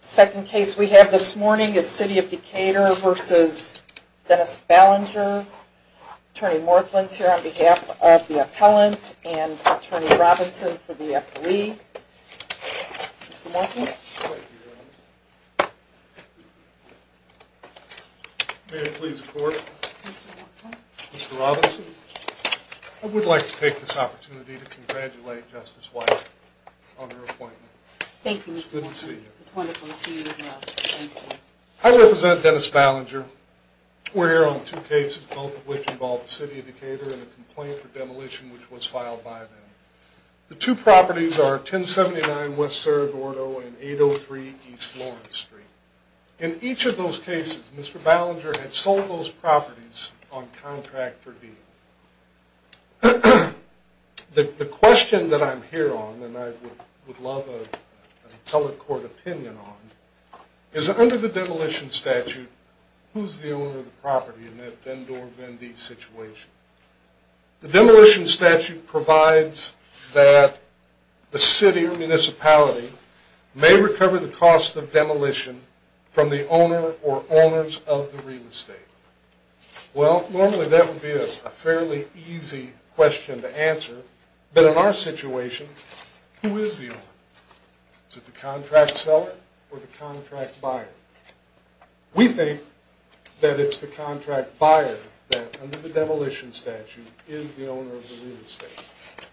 Second case we have this morning is City of Decatur v. Dennis Ballinger. Attorney Morthland is here on behalf of the appellant and Attorney Robinson for the affilee. Mr. Morthland. May it please the court. Mr. Morthland. Mr. Robinson. I would like to take this opportunity to congratulate Justice White on her appointment. Thank you, Mr. Morthland. It's good to see you. It's wonderful to see you as well. Thank you. I represent Dennis Ballinger. We're here on two cases, both of which involve the City of Decatur and a complaint for demolition which was filed by them. The two properties are 1079 West Cerro Gordo and 803 East Lawrence Street. In each of those cases, Mr. Ballinger had sold those properties on contract for deal. The question that I'm here on, and I would love a public court opinion on, is under the demolition statute, who's the owner of the property in that Vendor Vendee situation? The demolition statute provides that the city or municipality may recover the cost of demolition from the owner or owners of the real estate. Well, normally that would be a fairly easy question to answer. But in our situation, who is the owner? Is it the contract seller or the contract buyer? We think that it's the contract buyer that, under the demolition statute, is the owner of the real estate.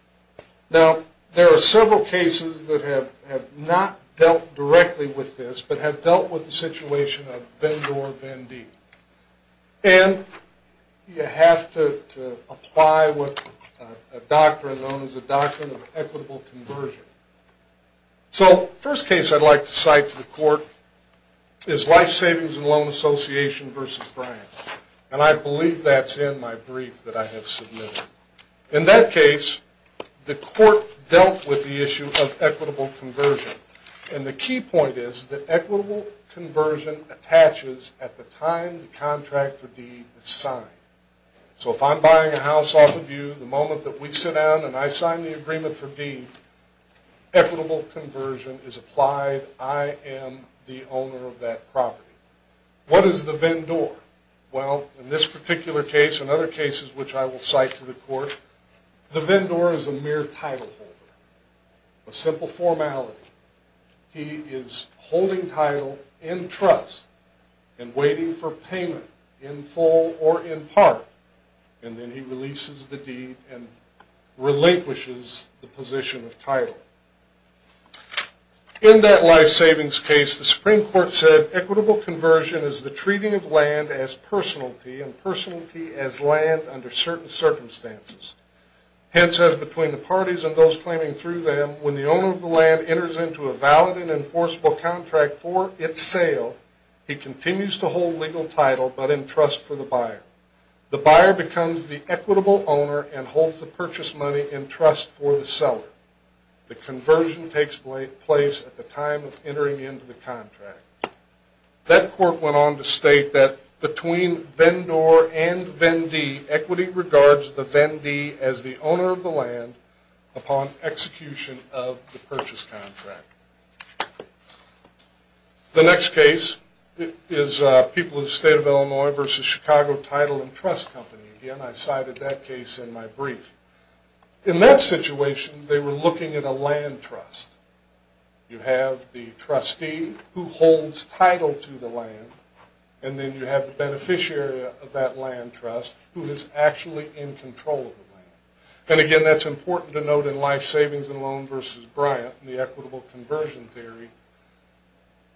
Now, there are several cases that have not dealt directly with this but have dealt with the situation of Vendor Vendee. And you have to apply what is known as a doctrine of equitable conversion. So, the first case I'd like to cite to the court is Life Savings and Loan Association v. Bryant. And I believe that's in my brief that I have submitted. In that case, the court dealt with the issue of equitable conversion. And the key point is that equitable conversion attaches at the time the contract for deed is signed. So, if I'm buying a house off of you, the moment that we sit down and I sign the agreement for deed, equitable conversion is applied. I am the owner of that property. What is the Vendor? Well, in this particular case and other cases which I will cite to the court, the Vendor is a mere title holder. A simple formality. He is holding title in trust and waiting for payment in full or in part. And then he releases the deed and relinquishes the position of title. In that Life Savings case, the Supreme Court said, equitable conversion is the treating of land as personality and personality as land under certain circumstances. Hence, as between the parties and those claiming through them, when the owner of the land enters into a valid and enforceable contract for its sale, he continues to hold legal title but in trust for the buyer. The buyer becomes the equitable owner and holds the purchase money in trust for the seller. The conversion takes place at the time of entering into the contract. That court went on to state that between Vendor and Vendee, equity regards the Vendee as the owner of the land upon execution of the purchase contract. The next case is People of the State of Illinois v. Chicago Title and Trust Company. Again, I cited that case in my brief. In that situation, they were looking at a land trust. You have the trustee who holds title to the land, and then you have the beneficiary of that land trust who is actually in control of the land. And again, that's important to note in Life Savings and Loan v. Bryant, the equitable conversion theory,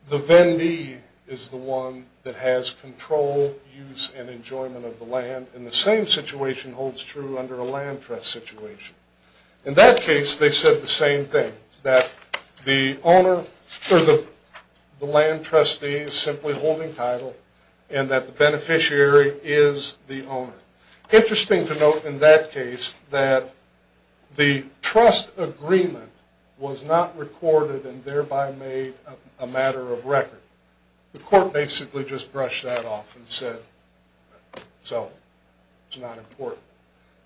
the Vendee is the one that has control, use, and enjoyment of the land. And the same situation holds true under a land trust situation. In that case, they said the same thing, that the land trustee is simply holding title and that the beneficiary is the owner. Interesting to note in that case that the trust agreement was not recorded and thereby made a matter of record. The court basically just brushed that off and said, so, it's not important.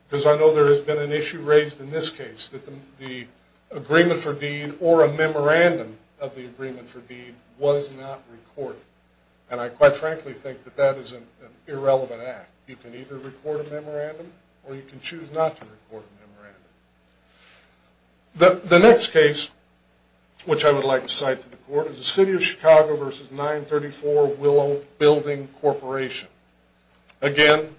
Because I know there has been an issue raised in this case, that the agreement for deed or a memorandum of the agreement for deed was not recorded. And I quite frankly think that that is an irrelevant act. You can either record a memorandum or you can choose not to record a memorandum. The next case, which I would like to cite to the court, is the City of Chicago v. 934 Willow Building Corporation. Again,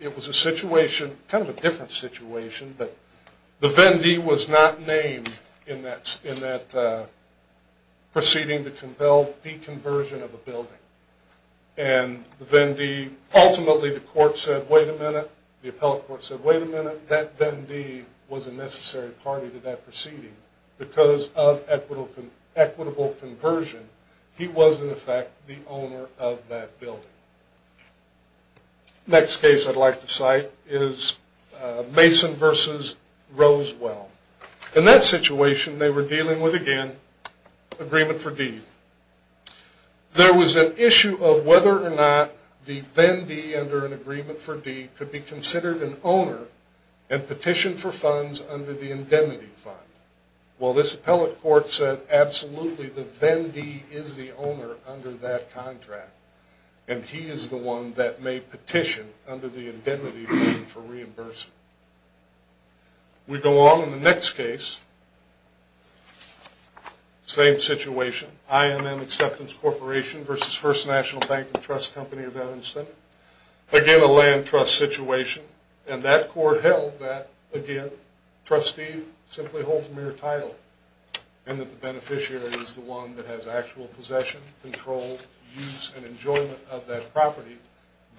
it was a situation, kind of a different situation, but the Vendee was not named in that proceeding to compel deconversion of a building. And the Vendee, ultimately the court said, wait a minute, the appellate court said, wait a minute, that Vendee was a necessary party to that proceeding. Because of equitable conversion, he was in effect the owner of that building. Next case I'd like to cite is Mason v. Rosewell. In that situation, they were dealing with, again, agreement for deed. There was an issue of whether or not the Vendee under an agreement for deed could be considered an owner and petitioned for funds under the indemnity fund. Well, this appellate court said, absolutely, the Vendee is the owner under that contract. And he is the one that may petition under the indemnity fund for reimbursement. We go on in the next case, same situation, IMM Acceptance Corporation v. First National Bank and Trust Company of Evanston. Again, a land trust situation. And that court held that, again, trustee simply holds mere title. And that the beneficiary is the one that has actual possession, control, use, and enjoyment of that property.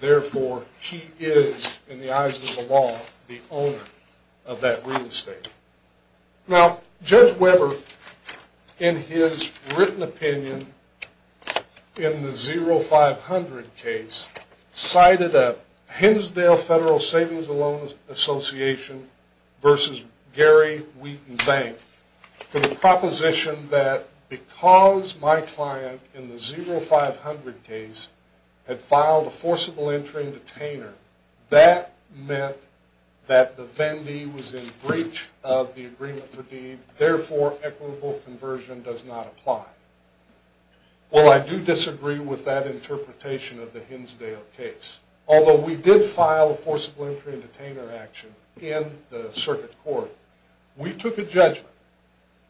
Therefore, he is, in the eyes of the law, the owner of that real estate. Now, Judge Weber, in his written opinion, in the 0500 case, cited a Hinsdale Federal Savings and Loan Association v. Gary Wheaton Bank for the proposition that because my client, in the 0500 case, had filed a forcible entry and detainer, that meant that the Vendee was in breach of the agreement for deed. Therefore, equitable conversion does not apply. Well, I do disagree with that interpretation of the Hinsdale case. Although we did file a forcible entry and detainer action in the circuit court, we took a judgment,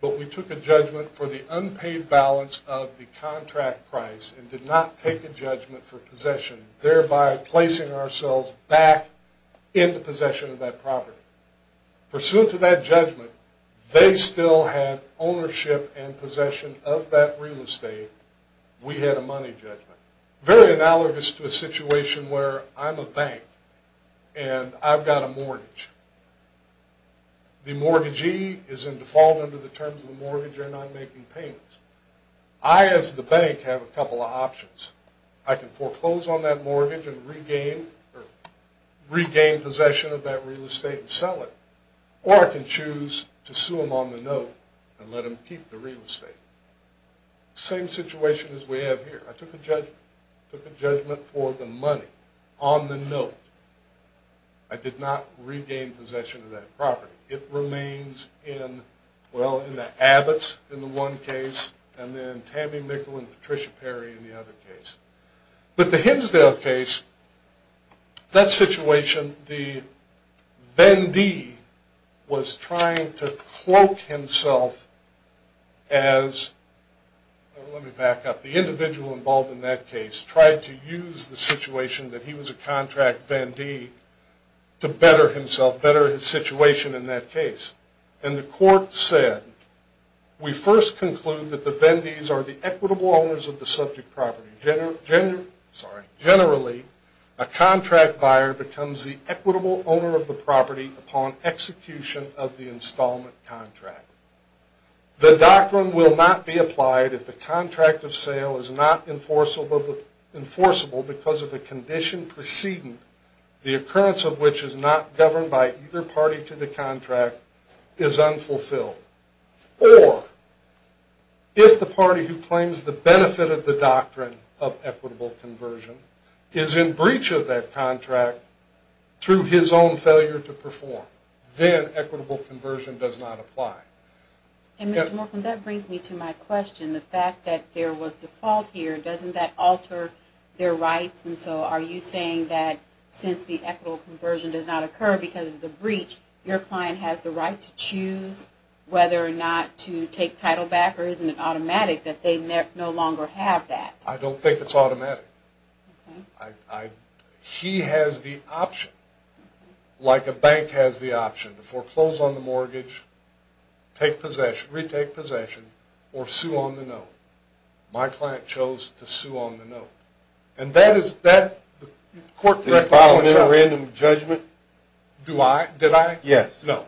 but we took a judgment for the unpaid balance of the contract price and did not take a judgment for possession, thereby placing ourselves back into possession of that property. Pursuant to that judgment, they still had ownership and possession of that real estate. We had a money judgment. Very analogous to a situation where I'm a bank and I've got a mortgage. The mortgagee is in default under the terms of the mortgage or not making payments. I, as the bank, have a couple of options. I can foreclose on that mortgage and regain possession of that real estate and sell it, or I can choose to sue them on the note and let them keep the real estate. Same situation as we have here. I took a judgment. I took a judgment for the money on the note. I did not regain possession of that property. It remains in, well, in the Abbott's in the one case, and then Tammy Mickle and Patricia Perry in the other case. But the Hinsdale case, that situation, the vendee was trying to cloak himself as, let me back up, the individual involved in that case tried to use the situation that he was a contract vendee to better himself, better his situation in that case. And the court said, we first conclude that the vendees are the equitable owners of the subject property. Generally, a contract buyer becomes the equitable owner of the property upon execution of the installment contract. The doctrine will not be applied if the contract of sale is not enforceable because of the condition proceeding, the occurrence of which is not governed by either party to the contract, is unfulfilled. Or, if the party who claims the benefit of the doctrine of equitable conversion is in breach of that contract through his own failure to perform, then equitable conversion does not apply. And Mr. Morphin, that brings me to my question. The fact that there was default here, doesn't that alter their rights? And so are you saying that since the equitable conversion does not occur because of the breach, your client has the right to choose whether or not to take title back or isn't it automatic that they no longer have that? I don't think it's automatic. He has the option, like a bank has the option, to foreclose on the mortgage, take possession, retake possession, or sue on the note. My client chose to sue on the note. Did you file a memorandum of judgment? Did I? Yes. No.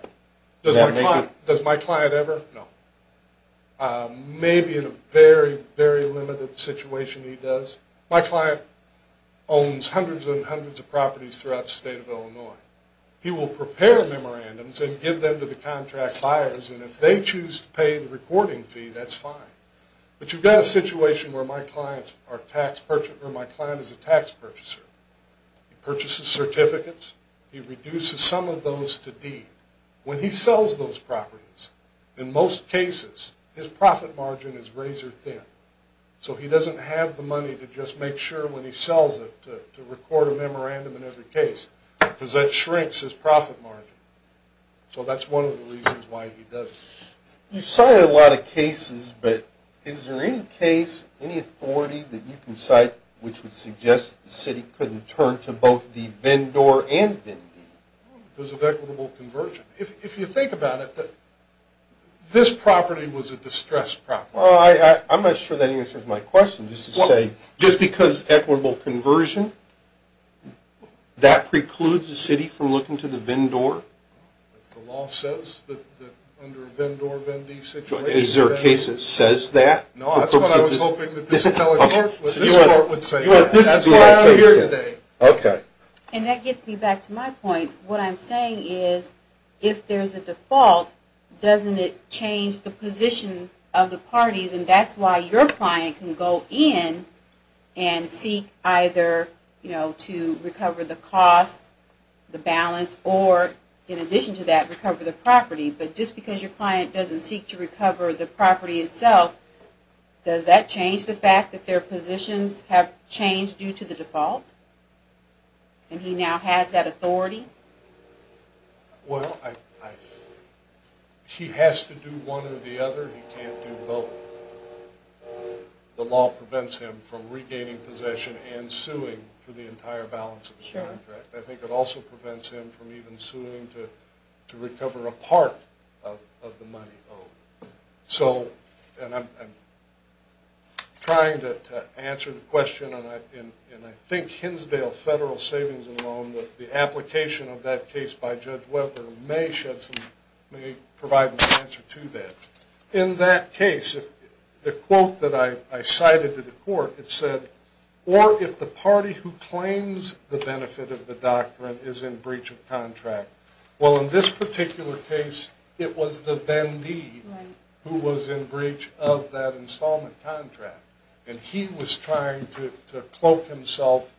Does my client ever? No. Maybe in a very, very limited situation he does. My client owns hundreds and hundreds of properties throughout the state of Illinois. He will prepare memorandums and give them to the contract buyers, and if they choose to pay the recording fee, that's fine. But you've got a situation where my client is a tax purchaser. He purchases certificates. He reduces some of those to deed. When he sells those properties, in most cases, his profit margin is razor thin. So he doesn't have the money to just make sure when he sells it to record a memorandum in every case because that shrinks his profit margin. So that's one of the reasons why he doesn't. You've cited a lot of cases, but is there any case, any authority that you can cite which would suggest the city couldn't turn to both the VIN door and VIN deed? Because of equitable conversion. If you think about it, this property was a distressed property. Well, I'm not sure that answers my question. Just because equitable conversion, that precludes the city from looking to the VIN door? The law says that under a VIN door, VIN deed situation. Is there a case that says that? No, that's what I was hoping that this court would say. That's why I'm here today. Okay. And that gets me back to my point. What I'm saying is if there's a default, doesn't it change the position of the parties? And that's why your client can go in and seek either to recover the cost, the balance, or in addition to that, recover the property. But just because your client doesn't seek to recover the property itself, does that change the fact that their positions have changed due to the default? And he now has that authority? Well, he has to do one or the other. He can't do both. The law prevents him from regaining possession and suing for the entire balance of his contract. I think it also prevents him from even suing to recover a part of the money owed. So, and I'm trying to answer the question, and I think Hinsdale Federal Savings and Loan, the application of that case by Judge Weber, may provide an answer to that. In that case, the quote that I cited to the court, it said, or if the party who claims the benefit of the doctrine is in breach of contract. Well, in this particular case, it was the vendee who was in breach of that installment contract. And he was trying to cloak himself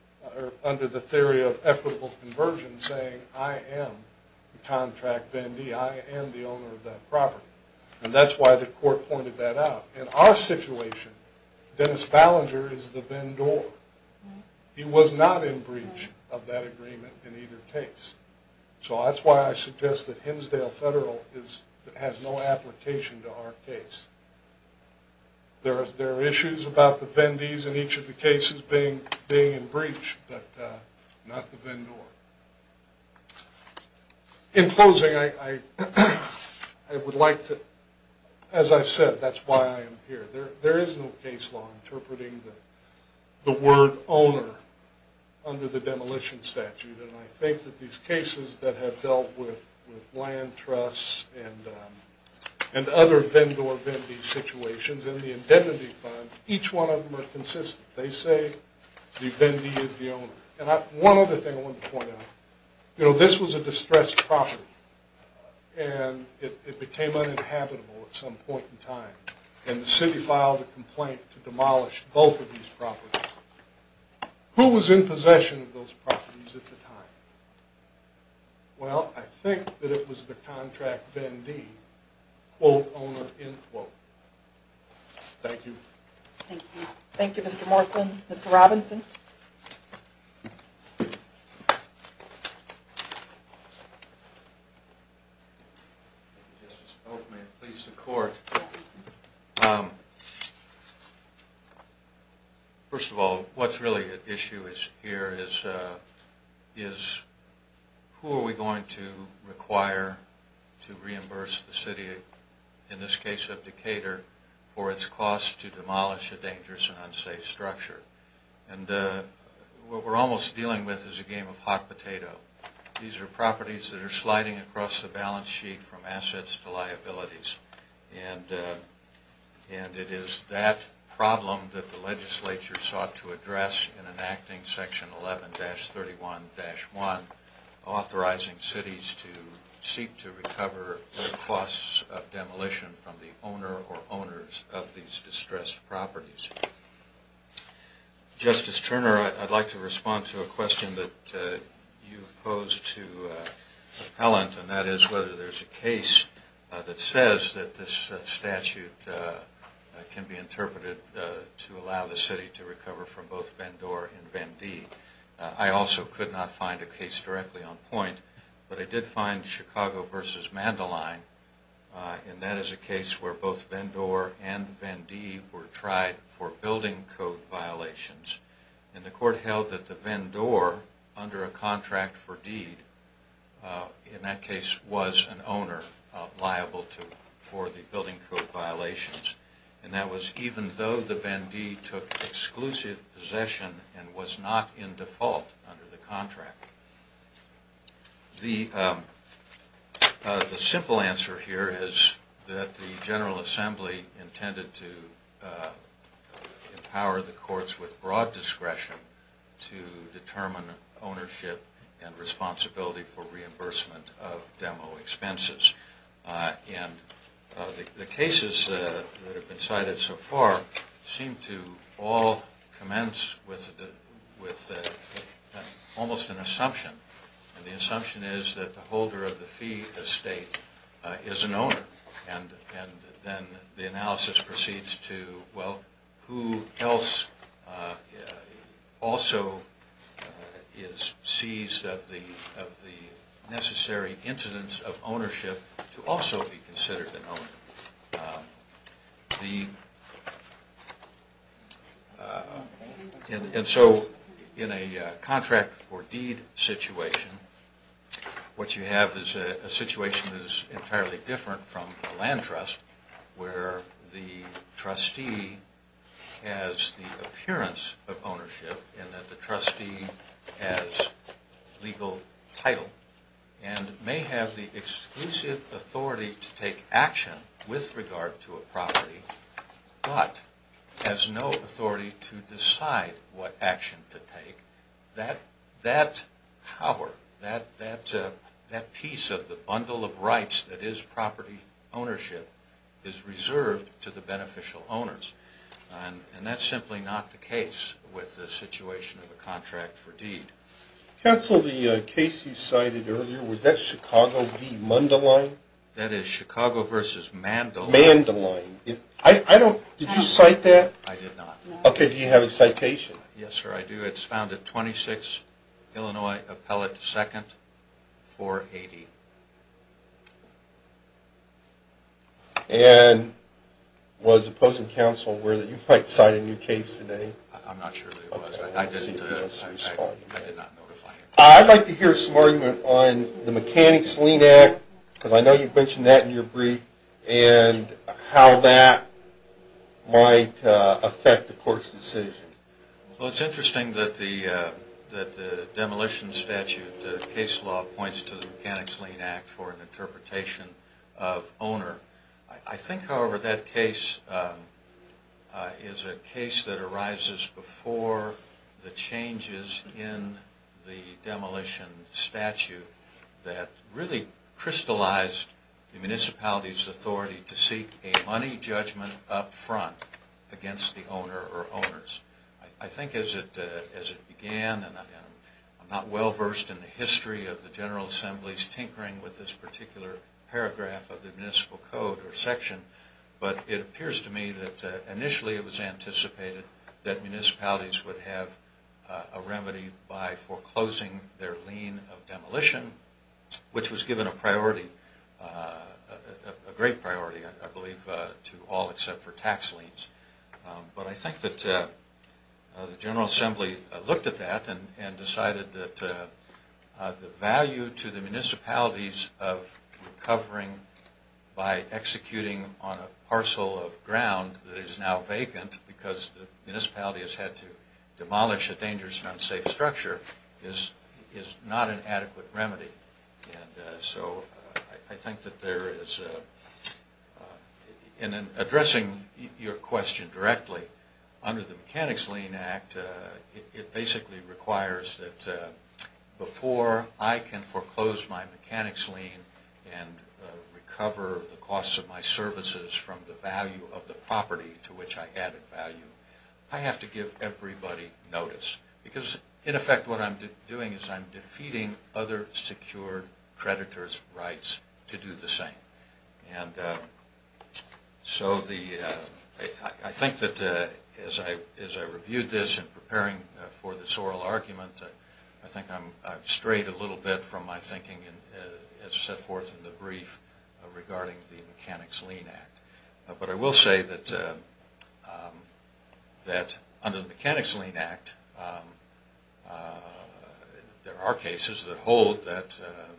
under the theory of equitable conversion, saying, I am the contract vendee. I am the owner of that property. And that's why the court pointed that out. In our situation, Dennis Ballinger is the vendor. He was not in breach of that agreement in either case. So that's why I suggest that Hinsdale Federal has no application to our case. There are issues about the vendees in each of the cases being in breach, but not the vendor. In closing, I would like to, as I've said, that's why I am here. There is no case law interpreting the word owner under the demolition statute. And I think that these cases that have dealt with land trusts and other vendor-vendee situations in the indemnity fund, each one of them are consistent. They say the vendee is the owner. One other thing I wanted to point out. You know, this was a distressed property. And it became uninhabitable at some point in time. And the city filed a complaint to demolish both of these properties. Who was in possession of those properties at the time? Well, I think that it was the contract vendee, quote, owner, end quote. Thank you. Thank you. Thank you, Mr. Morthman. Mr. Robinson. Thank you, Justice Boakman. Please, the court. First of all, what's really at issue here is who are we going to require to reimburse the city, in this case of Decatur, for its cost to demolish a dangerous and unsafe structure. And what we're almost dealing with is a game of hot potato. These are properties that are sliding across the balance sheet from assets to liabilities. And it is that problem that the legislature sought to address in enacting Section 11-31-1, authorizing cities to seek to recover their costs of demolition from the owner or owners of these distressed properties. Justice Turner, I'd like to respond to a question that you posed to Appellant, and that is whether there's a case that says that this statute can be interpreted to allow the city to recover from both Vendor and Vendee. I also could not find a case directly on point, but I did find Chicago v. Mandeline, and that is a case where both Vendor and Vendee were tried for building code violations. And the court held that the Vendor, under a contract for deed, in that case was an owner liable for the building code violations. And that was even though the Vendee took exclusive possession and was not in default under the contract. The simple answer here is that the General Assembly intended to empower the courts with broad discretion to determine ownership and responsibility for reimbursement of demo expenses. And the cases that have been cited so far seem to all commence with almost an assumption. And the assumption is that the holder of the fee estate is an owner. And then the analysis proceeds to, well, who else also is seized of the necessary incidence of ownership to also be considered an owner? And so in a contract for deed situation, what you have is a situation that is entirely different from a land trust where the trustee has the appearance of ownership and that the trustee has legal title and may have the exclusive authority to take action with regard to a property, but has no authority to decide what action to take. That power, that piece of the bundle of rights that is property ownership, is reserved to the beneficial owners. And that's simply not the case with the situation of a contract for deed. Counsel, the case you cited earlier, was that Chicago v. Mundelein? That is Chicago versus Mandelein. Mandelein. I don't, did you cite that? I did not. Okay, do you have a citation? Yes, sir, I do. It's found at 26 Illinois Appellate 2nd, 480. And was opposing counsel aware that you might cite a new case today? I'm not sure that it was. I did not notify him. I'd like to hear some argument on the mechanics lien act, because I know you've mentioned that in your brief, and how that might affect the court's decision. Well, it's interesting that the demolition statute case law points to the mechanics lien act for an interpretation of owner. I think, however, that case is a case that arises before the changes in the demolition statute that really crystallized the municipality's authority to seek a money judgment up front against the owner or owners. I think as it began, and I'm not well versed in the history of the General Assembly's tinkering with this particular paragraph of the municipal code or section, but it appears to me that initially it was anticipated that municipalities would have a remedy by foreclosing their lien of demolition, which was given a great priority, I believe, to all except for tax liens. But I think that the General Assembly looked at that and decided that the value to the municipalities of recovering by executing on a parcel of ground that is now vacant because the municipality has had to demolish a dangerous and unsafe structure is not an adequate remedy. And so I think that there is, in addressing your question directly, under the mechanics lien act, it basically requires that before I can foreclose my mechanics lien and recover the costs of my services from the value of the property to which I added value, I have to give everybody notice. Because, in effect, what I'm doing is I'm defeating other secured creditors' rights to do the same. And so I think that as I reviewed this in preparing for this oral argument, I think I've strayed a little bit from my thinking as set forth in the brief regarding the mechanics lien act. But I will say that under the mechanics lien act, there are cases that hold that a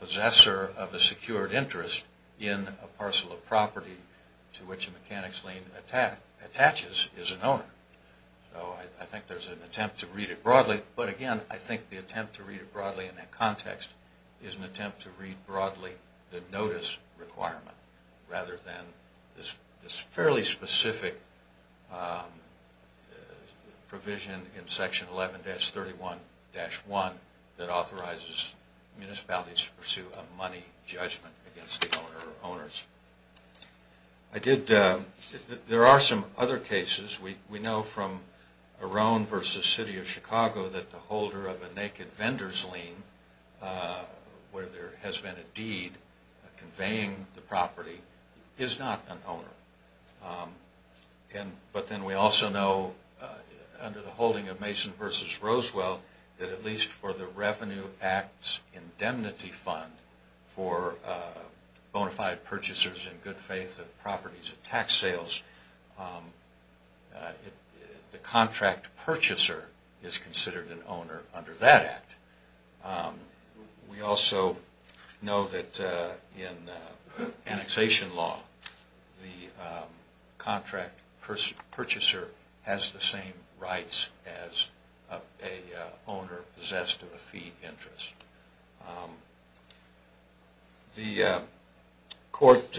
possessor of a secured interest in a parcel of property to which a mechanics lien attaches is an owner. So I think there's an attempt to read it broadly. But again, I think the attempt to read it broadly in that context is an attempt to read broadly the notice requirement rather than this fairly specific provision in section 11-31-1 that authorizes municipalities to pursue a money judgment against the owner or owners. There are some other cases. We know from Arone v. City of Chicago that the holder of a naked vendor's lien where there has been a deed conveying the property is not an owner. But then we also know under the holding of Mason v. Rosewell that at least for the Revenue Act's indemnity fund for bona fide purchasers in good faith of properties at tax sales, the contract purchaser is considered an owner under that act. We also know that in annexation law, the contract purchaser has the same rights as an owner possessed of a fee interest. The court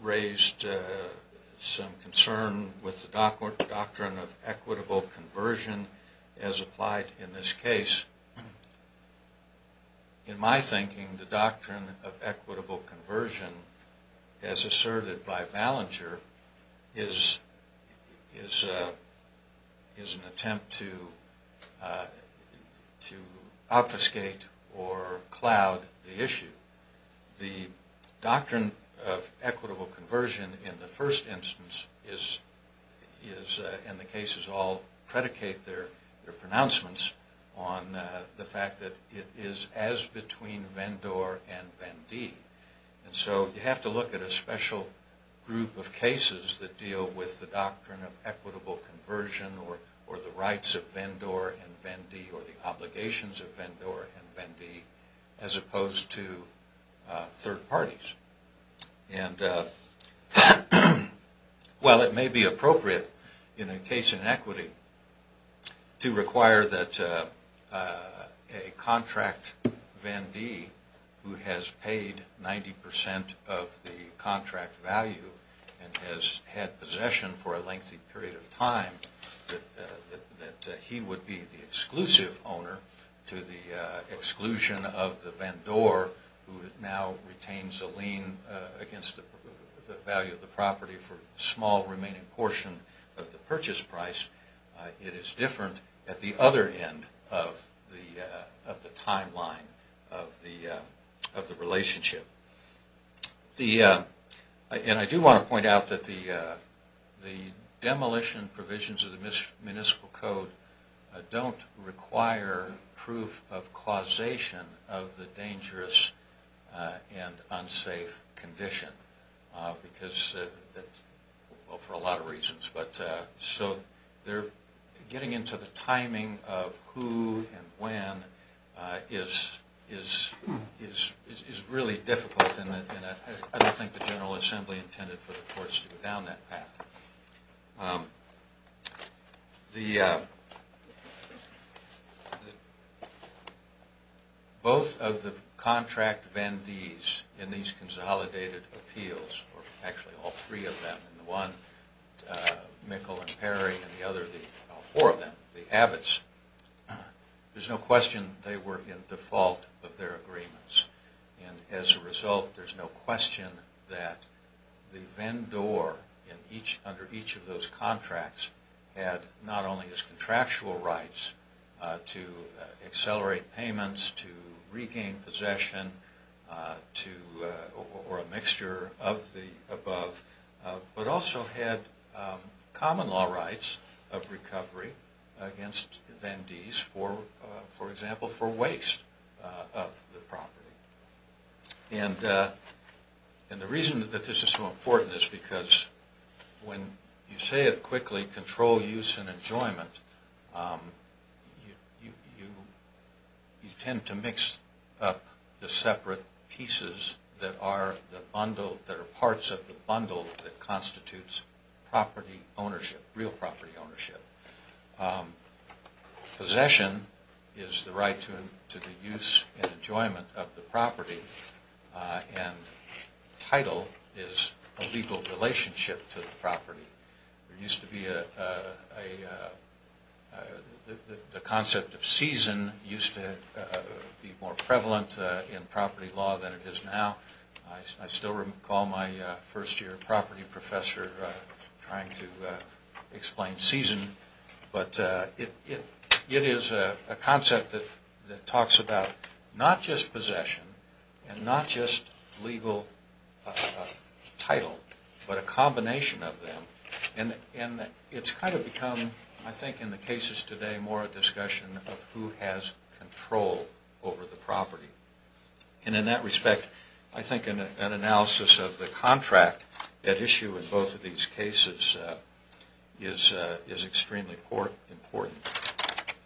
raised some concern with the doctrine of equitable conversion as applied in this case. In my thinking, the doctrine of equitable conversion as asserted by Ballenger is an attempt to obfuscate or cloud the issue. The doctrine of equitable conversion in the first instance is, and the cases all predicate their pronouncements on the fact that it is as between vendor and vendee. So you have to look at a special group of cases that deal with the doctrine of equitable conversion or the rights of vendor and vendee or the obligations of vendor and vendee as opposed to third parties. And while it may be appropriate in a case in equity to require that a contract vendee who has paid 90% of the contract value and has had possession for a lengthy period of time that he would be the exclusive owner to the exclusion of the vendor who now retains a lien against the value of the property for a small remaining portion of the purchase price, it is different at the other end of the timeline of the relationship. And I do want to point out that the demolition provisions of the municipal code don't require proof of causation of the dangerous and unsafe condition for a lot of reasons. So getting into the timing of who and when is really difficult and I don't think the General Assembly intended for the courts to go down that path. Both of the contract vendees in these consolidated appeals, or actually all three of them, the one, Mikkel and Perry, and the other, all four of them, the Abbots, there's no question they were in default of their agreements. And as a result, there's no question that the vendor under each of those contracts had not only his contractual rights to accelerate payments, to regain possession, or a mixture of the above, but also had common law rights of recovery against vendees, for example, for waste of the property. And the reason that this is so important is because when you say it quickly, you tend to mix up the separate pieces that are the bundle, that are parts of the bundle that constitutes property ownership, real property ownership. Possession is the right to the use and enjoyment of the property and title is a legal relationship to the property. There used to be a, the concept of season used to be more prevalent in property law than it is now. I still recall my first year property professor trying to explain season, but it is a concept that talks about not just possession and not just legal title, but a combination of them and it's kind of become, I think in the cases today, more a discussion of who has control over the property. And in that respect, I think an analysis of the contract at issue in both of these cases is extremely important.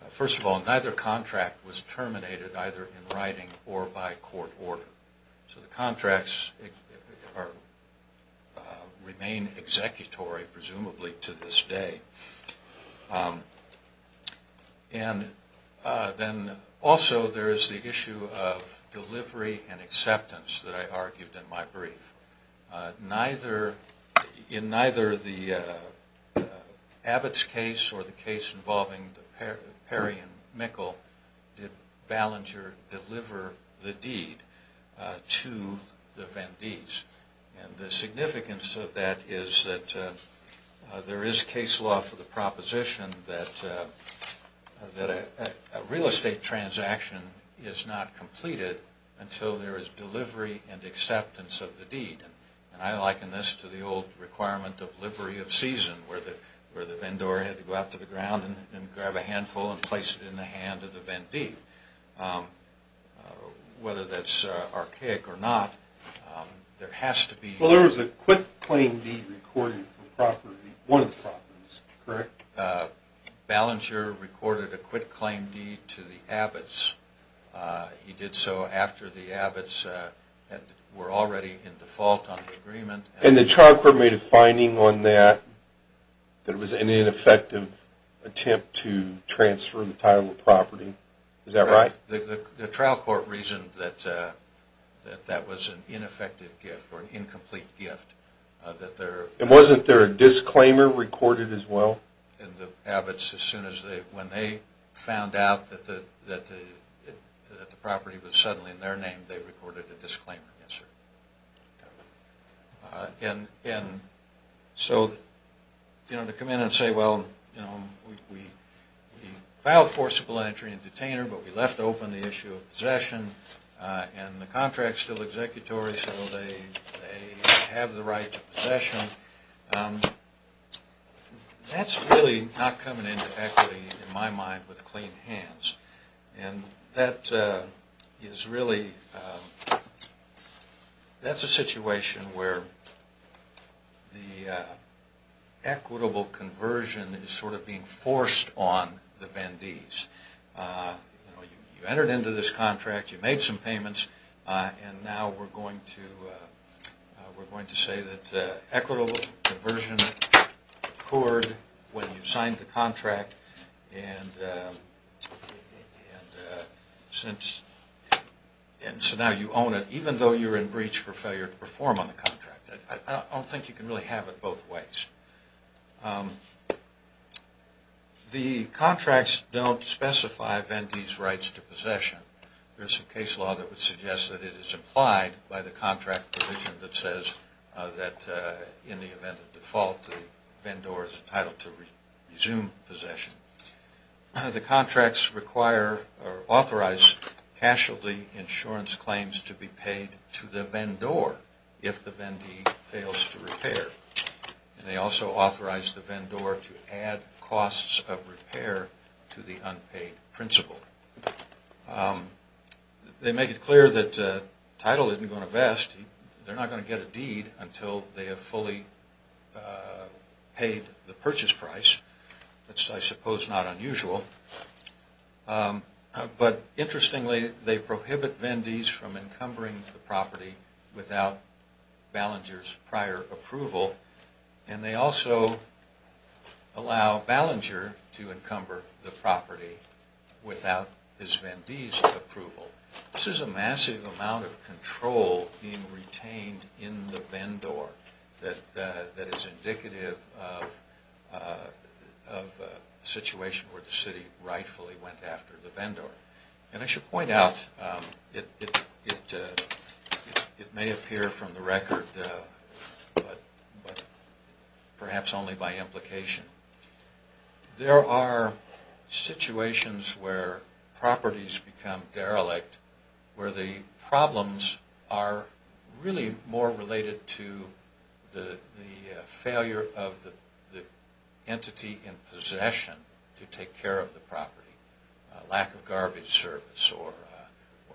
First of all, neither contract was terminated either in writing or by court order. So the contracts remain executory presumably to this day. And then also there is the issue of delivery and acceptance that I argued in my brief. Neither, in neither the Abbott's case or the case involving Perry and Mikkel, did Ballenger deliver the deed to the Vendees. And the significance of that is that there is case law for the proposition that a real estate transaction is not completed until there is delivery and acceptance of the deed. And I liken this to the old requirement of livery of season where the vendor had to go out to the ground and grab a handful and place it in the hand of the Vendee. Whether that's archaic or not, there has to be... One of the properties, correct? Ballenger recorded a quitclaim deed to the Abbott's. He did so after the Abbott's were already in default on the agreement. And the trial court made a finding on that, that it was an ineffective attempt to transfer the title of property. Is that right? The trial court reasoned that that was an ineffective gift or an incomplete gift. And wasn't there a disclaimer recorded as well? In the Abbott's, when they found out that the property was suddenly in their name, they recorded a disclaimer, yes, sir. And so, you know, to come in and say, well, you know, we filed forcible entry and detainer, but we left open the issue of possession, and the contract's still executory, so they have the right to possession. That's really not coming into equity, in my mind, with clean hands. And that is really... That's a situation where the equitable conversion is sort of being forced on the Vendees. You know, you entered into this contract, you made some payments, and now we're going to say that equitable conversion occurred when you signed the contract. And since... And so now you own it, even though you're in breach for failure to perform on the contract. I don't think you can really have it both ways. The contracts don't specify Vendee's rights to possession. There's a case law that would suggest that it is implied by the contract provision that says that in the event of default, the Vendor is entitled to resume possession. The contracts require or authorize casualty insurance claims to be paid to the Vendor if the Vendee fails to repair. They also authorize the Vendor to add costs of repair to the unpaid principal. They make it clear that title isn't going to vest. They're not going to get a deed until they have fully paid the purchase price, which I suppose is not unusual. But interestingly, they prohibit Vendees from encumbering the property without Ballenger's prior approval. And they also allow Ballenger to encumber the property without his Vendee's approval. This is a massive amount of control being retained in the Vendor that is indicative of a situation where the city rightfully went after the Vendor. And I should point out, it may appear from the record, but perhaps only by implication, there are situations where properties become derelict, where the problems are really more related to the failure of the entity in possession to take care of the property. Lack of garbage service or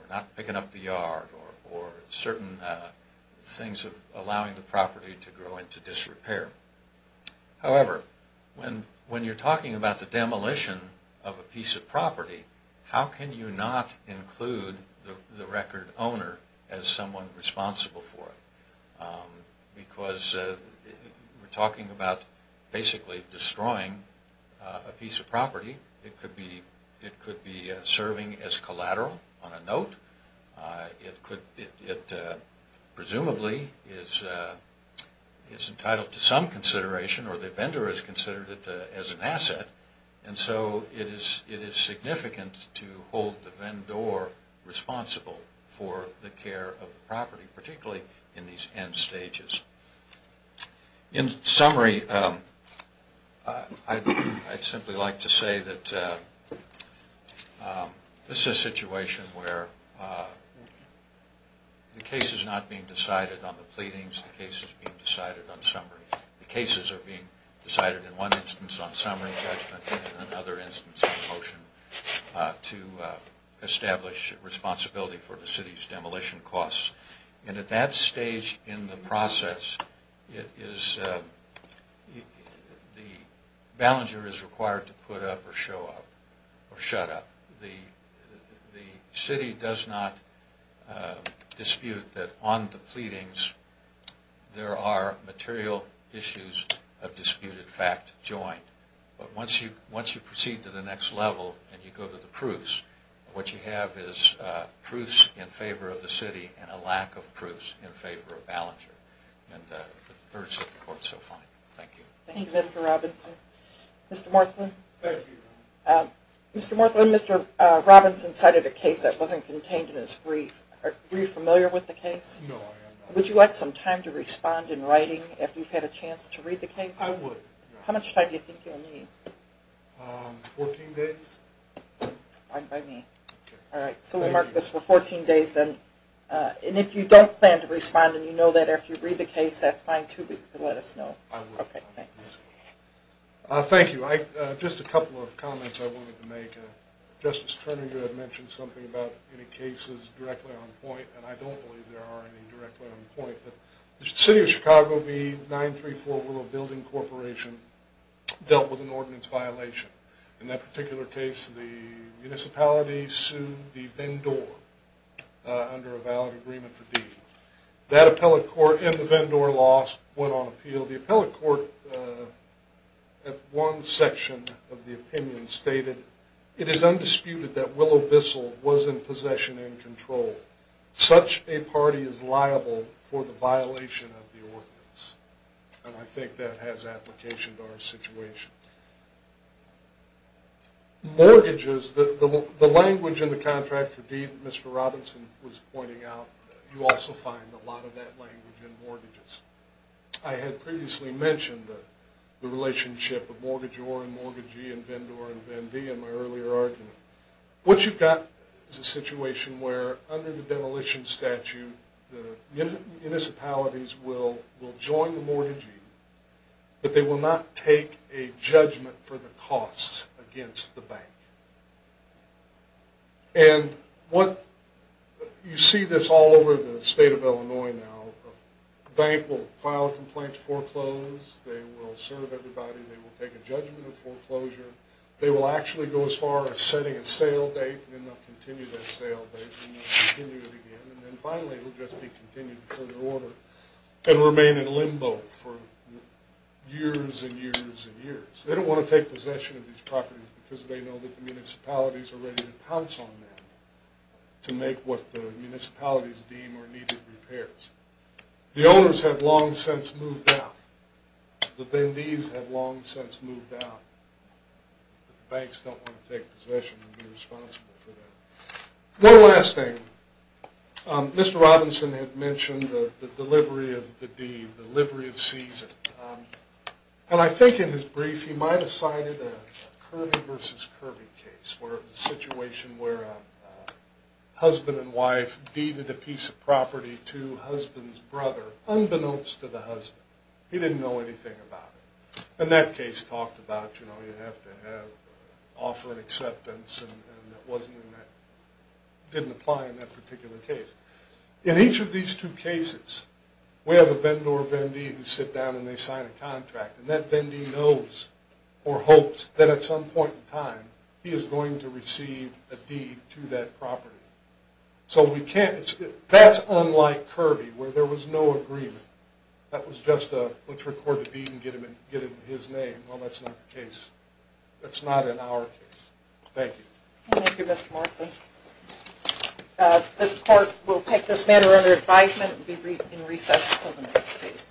not picking up the yard or certain things allowing the property to grow into disrepair. However, when you're talking about the demolition of a piece of property, how can you not include the record owner as someone responsible for it? Because we're talking about basically destroying a piece of property. It could be serving as collateral on a note. It presumably is entitled to some consideration or the Vendor has considered it as an asset. And so it is significant to hold the Vendor responsible for the care of the property, particularly in these end stages. In summary, I'd simply like to say that this is a situation where the case is not being decided on the pleadings. The case is being decided on summary. The cases are being decided in one instance on summary judgment and another instance of a motion to establish responsibility for the city's demolition costs. And at that stage in the process, the Ballenger is required to put up or show up or shut up. The city does not dispute that on the pleadings there are material issues of disputed fact joined. But once you proceed to the next level and you go to the proofs, what you have is proofs in favor of the city and a lack of proofs in favor of Ballenger. And I urge that the Court so find. Thank you. Thank you, Mr. Robinson. Mr. Morthland? Thank you. Mr. Morthland, Mr. Robinson cited a case that wasn't contained in his brief. Are you familiar with the case? No, I am not. Would you like some time to respond in writing after you've had a chance to read the case? I would. How much time do you think you'll need? Fourteen days. Fine by me. Okay, thank you. All right, so we'll mark this for 14 days then. And if you don't plan to respond and you know that after you read the case, that's fine too. You can let us know. I will. Okay, thanks. Thank you. Just a couple of comments I wanted to make. Justice Turner, you had mentioned something about any cases directly on point, and I don't believe there are any directly on point. The City of Chicago v. 934 Willow Building Corporation dealt with an ordinance violation. In that particular case, the municipality sued the Vendor under a valid agreement for deed. That appellate court and the Vendor lost, went on appeal. The appellate court at one section of the opinion stated, It is undisputed that Willow Bissell was in possession and control. Such a party is liable for the violation of the ordinance. And I think that has application to our situation. Mortgages, the language in the contract for deed that Mr. Robinson was pointing out, you also find a lot of that language in mortgages. I had previously mentioned the relationship of mortgageor and mortgagee and vendor and vendee in my earlier argument. What you've got is a situation where under the demolition statute, the municipalities will join the mortgagee, but they will not take a judgment for the costs against the bank. You see this all over the state of Illinois now. A bank will file a complaint to foreclose. They will serve everybody. They will take a judgment of foreclosure. They will actually go as far as setting a sale date and then they'll continue that sale date and they'll continue it again. And then finally it will just be continued in further order and remain in limbo for years and years and years. They don't want to take possession of these properties because they know that the municipalities are ready to pounce on them to make what the municipalities deem are needed repairs. The owners have long since moved out. The vendees have long since moved out. Banks don't want to take possession and be responsible for that. One last thing. Mr. Robinson had mentioned the delivery of the deed, the delivery of season. And I think in his brief he might have cited a Kirby versus Kirby case where it was a situation where a husband and wife deeded a piece of property to husband's brother unbeknownst to the husband. He didn't know anything about it. And that case talked about, you know, you have to offer an acceptance and that didn't apply in that particular case. In each of these two cases we have a vendor or vendee who sit down and they sign a contract and that vendee knows or hopes that at some point in time he is going to receive a deed to that property. So that's unlike Kirby where there was no agreement. That was just a, let's record the deed and get it in his name. Well, that's not the case. That's not in our case. Thank you. Thank you, Mr. Martin. This court will take this matter under advisement and will be in recess until the next case.